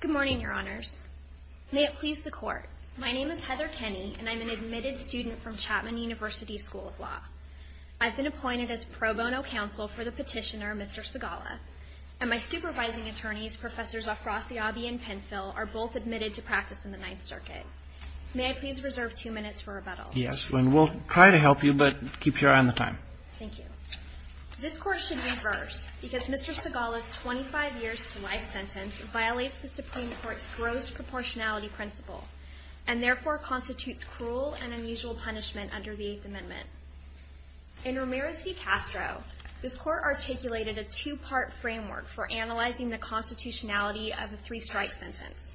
Good morning, Your Honors. May it please the Court, my name is Heather Kenny, and I'm an admitted student from Chapman University School of Law. I've been appointed as pro bono counsel for the petitioner, Mr. Sigala, and my supervising attorneys, Professors Afrasiabi and Penfill, are both admitted to practice in the Ninth Circuit. May I please reserve two minutes for rebuttal? Yes, and we'll try to help you, but keep your eye on the time. Thank you. This Court should reverse, because Mr. Sigala's 25-years-to-life sentence violates the Supreme Court's gross proportionality principle, and therefore constitutes cruel and unusual punishment under the Eighth Amendment. In Ramirez v. Castro, this Court articulated a two-part framework for analyzing the constitutionality of a three-strike sentence.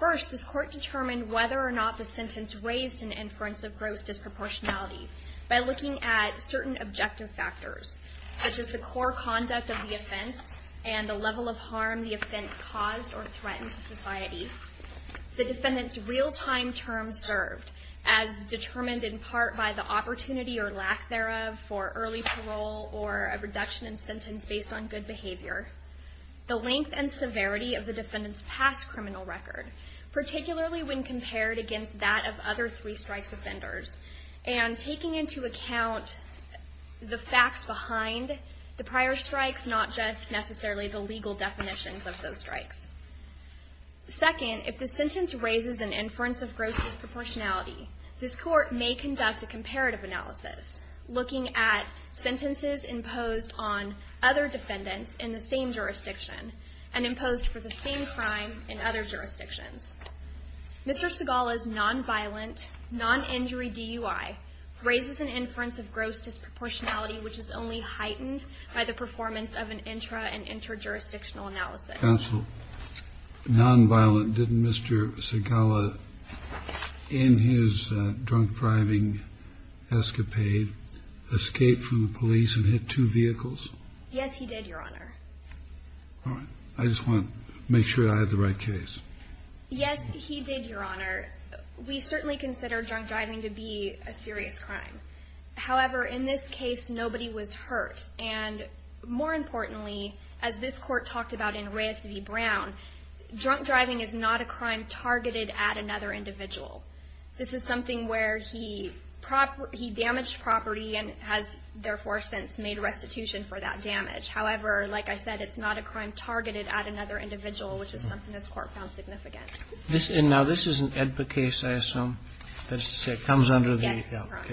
First, this Court determined whether or not the sentence raised an inference of gross disproportionality by looking at certain objective factors, such as the core conduct of the offense and the level of harm the offense caused or threatened to society. The defendant's real-time term served, as determined in part by the opportunity or lack thereof for early parole or a reduction in sentence based on good behavior. The length and severity of the defendant's past criminal record, particularly when compared against that of other three-strikes offenders, and taking into account the facts behind the prior strikes, not just necessarily the legal definitions of those strikes. Second, if the sentence raises an inference of gross disproportionality, this Court may conduct a comparative analysis, looking at sentences imposed on other defendants in the same jurisdiction and imposed for the same crime in other jurisdictions. Mr. Segala's nonviolent, noninjury DUI raises an inference of gross disproportionality, which is only heightened by the performance of an intra- and interjurisdictional analysis. Kennedy. Counsel, nonviolent. Didn't Mr. Segala, in his drunk driving escapade, escape from the police and hit two vehicles? Yes, he did, Your Honor. All right. I just want to make sure I have the right case. Yes, he did, Your Honor. We certainly consider drunk driving to be a serious crime. However, in this case, nobody was hurt. And more importantly, as this Court talked about in Reyes v. Brown, drunk driving is not a crime targeted at another individual. This is something where he damaged property and has therefore since made restitution for that damage. However, like I said, it's not a crime targeted at another individual, which is something this Court found significant. Now, this is an AEDPA case, I assume. That is to say, it comes under the AEDPA. Yes, that's correct.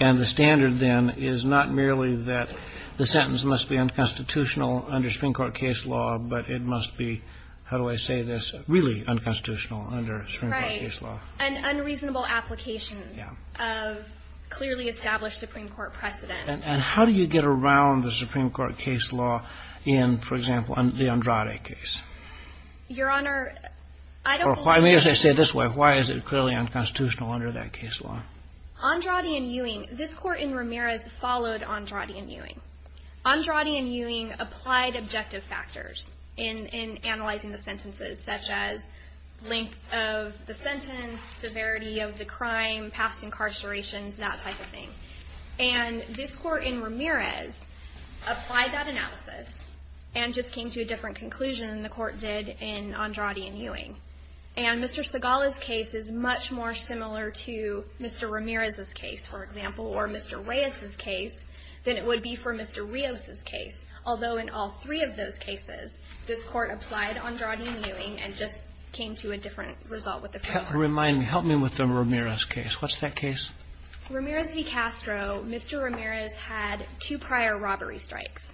And the standard, then, is not merely that the sentence must be unconstitutional under Supreme Court case law, but it must be, how do I say this, really unconstitutional under Supreme Court case law. An unreasonable application of clearly established Supreme Court precedent. And how do you get around the Supreme Court case law in, for example, the Andrade case? Your Honor, I don't think... I mean, as I say it this way, why is it clearly unconstitutional under that case law? Andrade and Ewing, this Court in Ramirez followed Andrade and Ewing. Andrade and Ewing applied objective factors in analyzing the sentences, such as length of the sentence, severity of the crime, past incarcerations, that type of thing. And this Court in Ramirez applied that analysis and just came to a different conclusion than the Court did in Andrade and Ewing. And Mr. Segala's case is much more similar to Mr. Ramirez's case, for example, or Mr. Reyes's case, than it would be for Mr. Rios's case. Although in all three of those cases, this Court applied Andrade and Ewing and just came to a different result with the framework. Help me with the Ramirez case. What's that case? Ramirez v. Castro, Mr. Ramirez had two prior robbery strikes.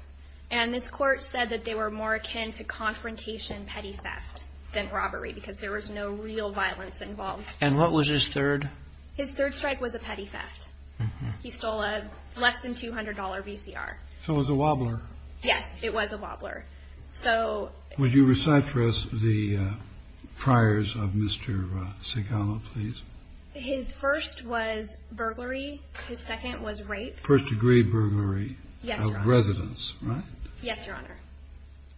And this Court said that they were more akin to confrontation petty theft than robbery, because there was no real violence involved. And what was his third? His third strike was a petty theft. He stole a less than $200 VCR. So it was a wobbler. Yes, it was a wobbler. So... Would you recite for us the priors of Mr. Segala, please? His first was burglary. His second was rape. First-degree burglary. Yes, Your Honor. Of residents, right? Yes, Your Honor.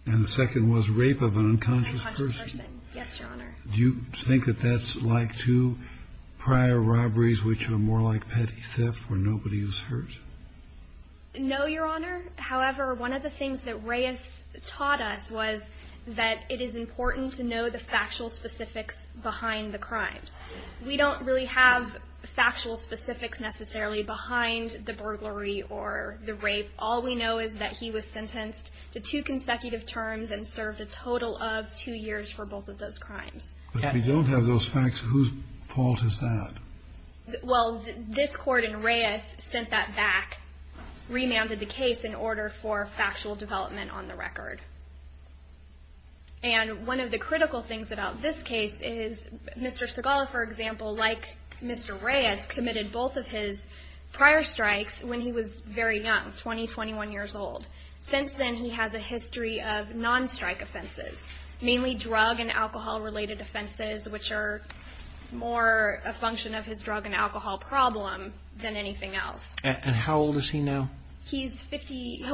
And the second was rape of an unconscious person. Of an unconscious person. Yes, Your Honor. Do you think that that's like two prior robberies which were more like petty theft where nobody was hurt? No, Your Honor. However, one of the things that Reyes taught us was that it is important to know the factual specifics behind the crimes. We don't really have factual specifics necessarily behind the burglary or the rape. All we know is that he was sentenced to two consecutive terms and served a total of two years for both of those crimes. If we don't have those facts, whose fault is that? Well, this court in Reyes sent that back, remanded the case in order for factual development on the record. And one of the critical things about this case is Mr. Segal, for example, like Mr. Reyes, committed both of his prior strikes when he was very young, 20, 21 years old. Since then, he has a history of non-strike offenses, mainly drug and alcohol-related offenses, which are more a function of his drug and alcohol problem than anything else. And how old is he now? He's 50.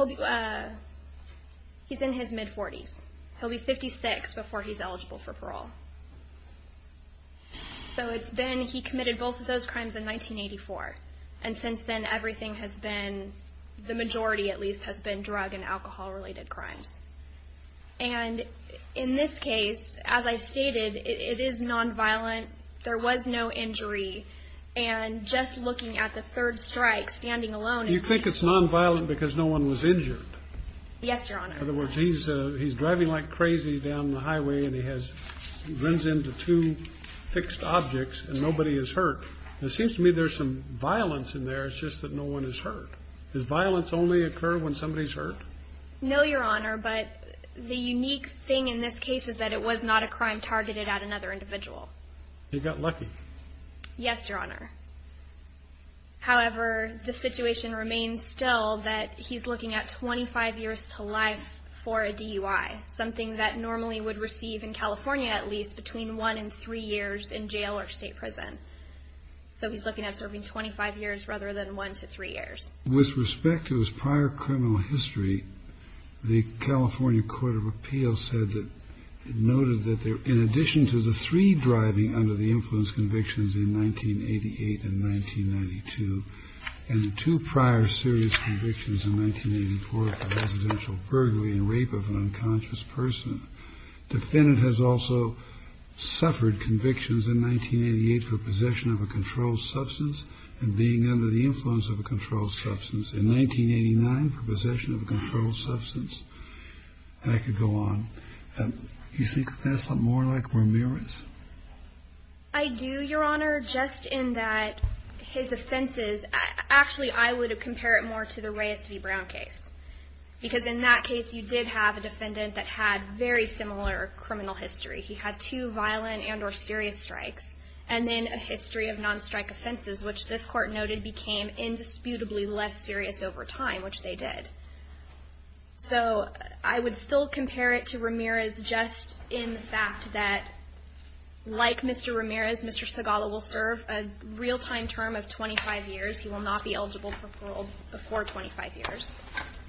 He's in his mid-40s. He'll be 56 before he's eligible for parole. So it's been he committed both of those crimes in 1984. And since then, everything has been, the majority at least, has been drug and alcohol-related crimes. And in this case, as I stated, it is nonviolent. There was no injury. And just looking at the third strike, standing alone. You think it's nonviolent because no one was injured? Yes, Your Honor. In other words, he's driving like crazy down the highway, and he has, runs into two fixed objects, and nobody is hurt. It seems to me there's some violence in there. It's just that no one is hurt. Does violence only occur when somebody's hurt? No, Your Honor, but the unique thing in this case is that it was not a crime targeted at another individual. He got lucky. Yes, Your Honor. However, the situation remains still that he's looking at 25 years to life for a DUI, something that normally would receive in California, at least, between one and three years in jail or state prison. So he's looking at serving 25 years rather than one to three years. With respect to his prior criminal history, the California Court of Appeals said that, it noted that in addition to the three driving under the influence convictions in 1988 and 1992, and the two prior serious convictions in 1984 for residential burglary and rape of an unconscious person, the defendant has also suffered convictions in 1988 for possession of a controlled substance and being under the influence of a controlled substance, in 1989 for possession of a controlled substance. And I could go on. You think that's more like Ramirez? I do, Your Honor, just in that his offenses, actually, I would compare it more to the Reyes v. Brown case. Because in that case, you did have a defendant that had very similar criminal history. He had two violent and or serious strikes, and then a history of non-strike offenses, which this court noted became indisputably less serious over time, which they did. So I would still compare it to Ramirez just in the fact that, like Mr. Ramirez, Mr. Segala will serve a real-time term of 25 years. He will not be eligible for parole before 25 years.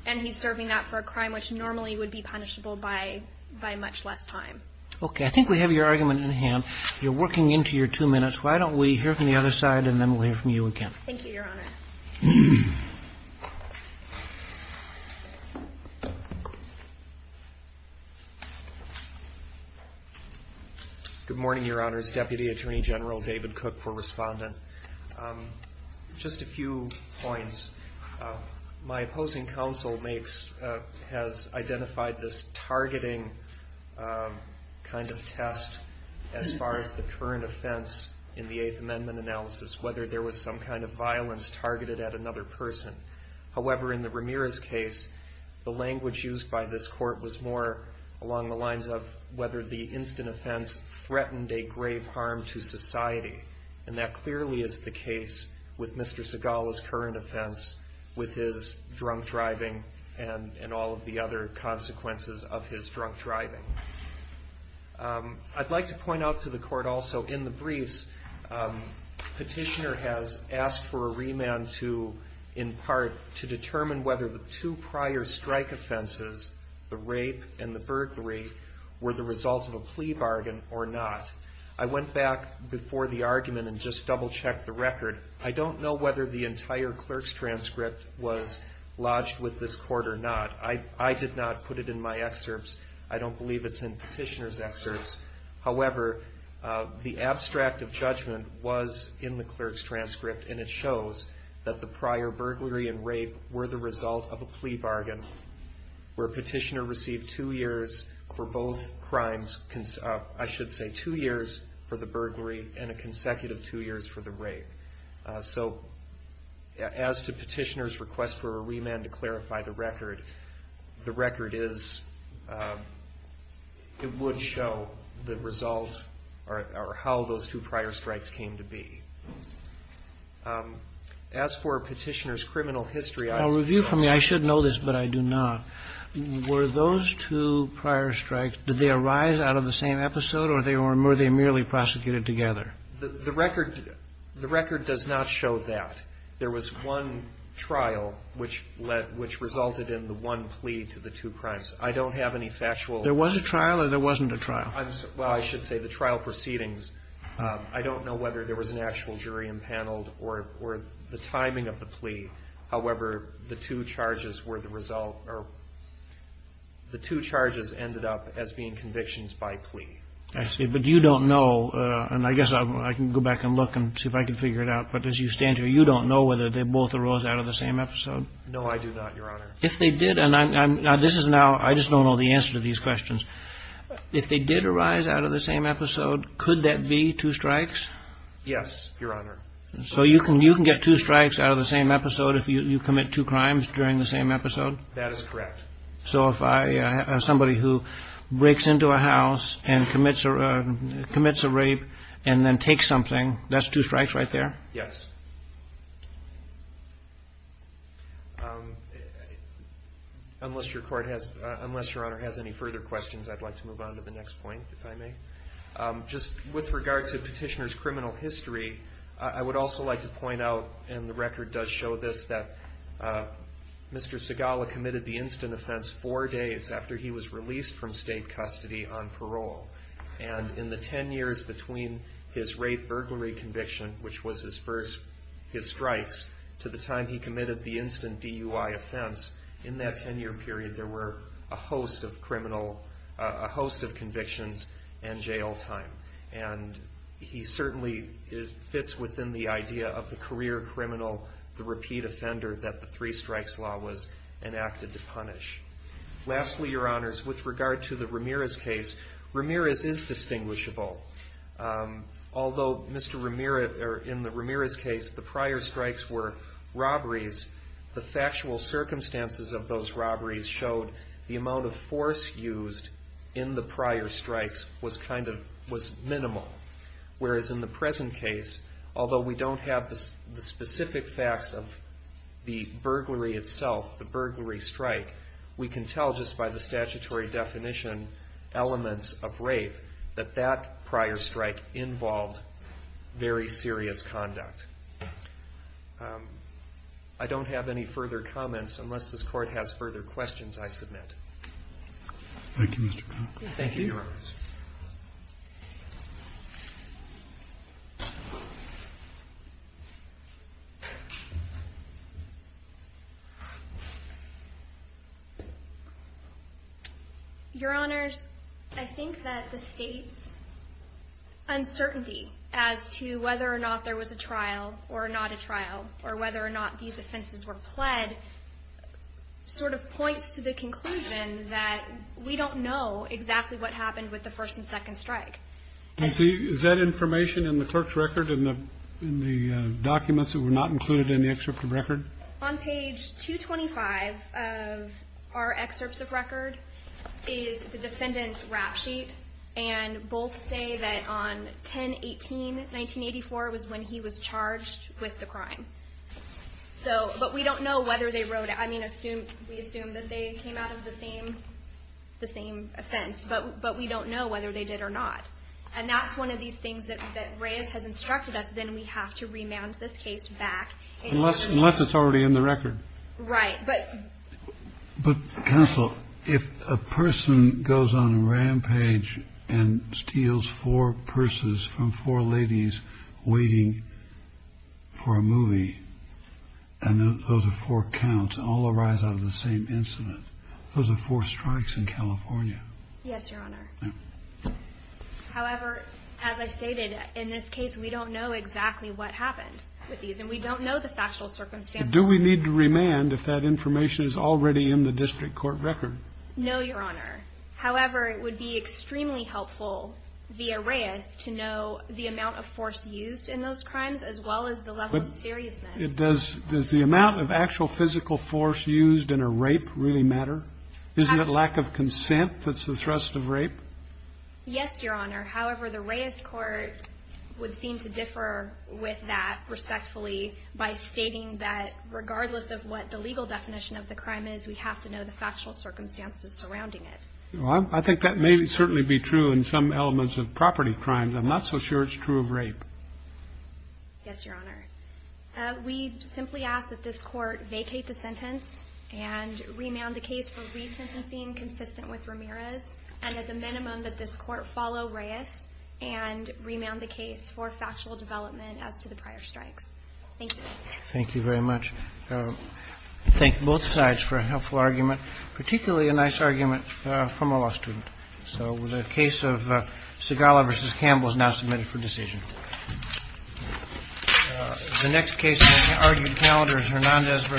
And he's serving that for a crime which normally would be punishable by much less time. Okay. I think we have your argument in hand. You're working into your two minutes. Why don't we hear from the other side, and then we'll hear from you again. Thank you, Your Honor. Good morning, Your Honors. Deputy Attorney General David Cook for Respondent. Just a few points. My opposing counsel has identified this targeting kind of test as far as the current offense in the Eighth Amendment analysis, whether there was some kind of violence targeted at another person. However, in the Ramirez case, the language used by this court was more along the lines of whether the instant offense threatened a grave harm to society. And that clearly is the case with Mr. Segala's current offense with his drunk driving and all of the other consequences of his drunk driving. I'd like to point out to the court also, in the briefs, Petitioner has asked for a remand to, in part, to determine whether the two prior strike offenses, the rape and the burglary, were the result of a plea bargain or not. I went back before the argument and just double-checked the record. I don't know whether the entire clerk's transcript was lodged with this court or not. I did not put it in my excerpts. I don't believe it's in Petitioner's excerpts. However, the abstract of judgment was in the clerk's transcript, and it shows that the prior burglary and rape were the result of a plea bargain, where Petitioner received two years for both crimes, I should say two years for the burglary and a consecutive two years for the rape. So as to Petitioner's request for a remand to clarify the record, the record is, it would show the result or how those two prior strikes came to be. As for Petitioner's criminal history, I... I'll review for me. I should know this, but I do not. Were those two prior strikes, did they arise out of the same episode, or were they merely prosecuted together? The record does not show that. There was one trial which resulted in the one plea to the two crimes. I don't have any factual... There was a trial or there wasn't a trial? Well, I should say the trial proceedings. I don't know whether there was an actual jury impaneled or the timing of the plea. However, the two charges were the result or the two charges ended up as being convictions by plea. I see. But you don't know, and I guess I can go back and look and see if I can figure it out, but as you stand here, you don't know whether they both arose out of the same episode? No, I do not, Your Honor. If they did, and this is now... I just don't know the answer to these questions. If they did arise out of the same episode, could that be two strikes? Yes, Your Honor. So you can get two strikes out of the same episode if you commit two crimes during the same episode? That is correct. So if somebody who breaks into a house and commits a rape and then takes something, that's two strikes right there? Yes. Unless Your Honor has any further questions, I'd like to move on to the next point, if I may. Just with regard to Petitioner's criminal history, I would also like to point out, and the record does show this, that Mr. Segala committed the instant offense four days after he was released from state custody on parole. And in the ten years between his rape burglary conviction, which was his first, his strikes, to the time he committed the instant DUI offense, in that ten-year period, there were a host of convictions and jail time. And he certainly fits within the idea of the career criminal, the repeat offender, that the three strikes law was enacted to punish. Lastly, Your Honors, with regard to the Ramirez case, Ramirez is distinguishable. Although in the Ramirez case, the prior strikes were robberies, the factual circumstances of those robberies showed the amount of force used in the prior strikes was kind of, was minimal. Whereas in the present case, although we don't have the specific facts of the burglary itself, the burglary strike, we can tell just by the statutory definition, elements of rape, that that prior strike involved very serious conduct. I don't have any further comments unless this Court has further questions, I submit. Thank you, Mr. Clark. Thank you, Your Honors. Your Honors, I think that the State's uncertainty as to whether or not there was a trial or not a trial, or whether or not these offenses were pled, sort of points to the conclusion that we don't know exactly what happened with the first and second strike. Is that information in the clerk's record, in the documents that were not included in the excerpt of record? On page 225 of our excerpts of record is the defendant's rap sheet, and both say that on 10-18-1984 was when he was charged with the crime. But we don't know whether they wrote it. I mean, we assume that they came out of the same offense. But we don't know whether they did or not. And that's one of these things that Reyes has instructed us, then we have to remand this case back. Unless it's already in the record. Right. But counsel, if a person goes on a rampage and steals four purses from four ladies waiting for a movie, and those are four counts, all arise out of the same incident, those are four strikes in California. Yes, Your Honor. However, as I stated, in this case we don't know exactly what happened with these, and we don't know the factual circumstances. Do we need to remand if that information is already in the district court record? No, Your Honor. However, it would be extremely helpful via Reyes to know the amount of force used in those crimes, as well as the level of seriousness. But does the amount of actual physical force used in a rape really matter? Isn't it lack of consent that's the thrust of rape? Yes, Your Honor. However, the Reyes court would seem to differ with that respectfully by stating that regardless of what the legal definition of the crime is, we have to know the factual circumstances surrounding it. I think that may certainly be true in some elements of property crimes. I'm not so sure it's true of rape. Yes, Your Honor. We simply ask that this court vacate the sentence and remand the case for resentencing consistent with Ramirez, and at the minimum that this court follow Reyes and remand the case for factual development as to the prior strikes. Thank you. Thank you very much. I thank both sides for a helpful argument, particularly a nice argument from a law student. So the case of Segala v. Campbell is now submitted for decision. The next case in the argued calendar is Hernandez v.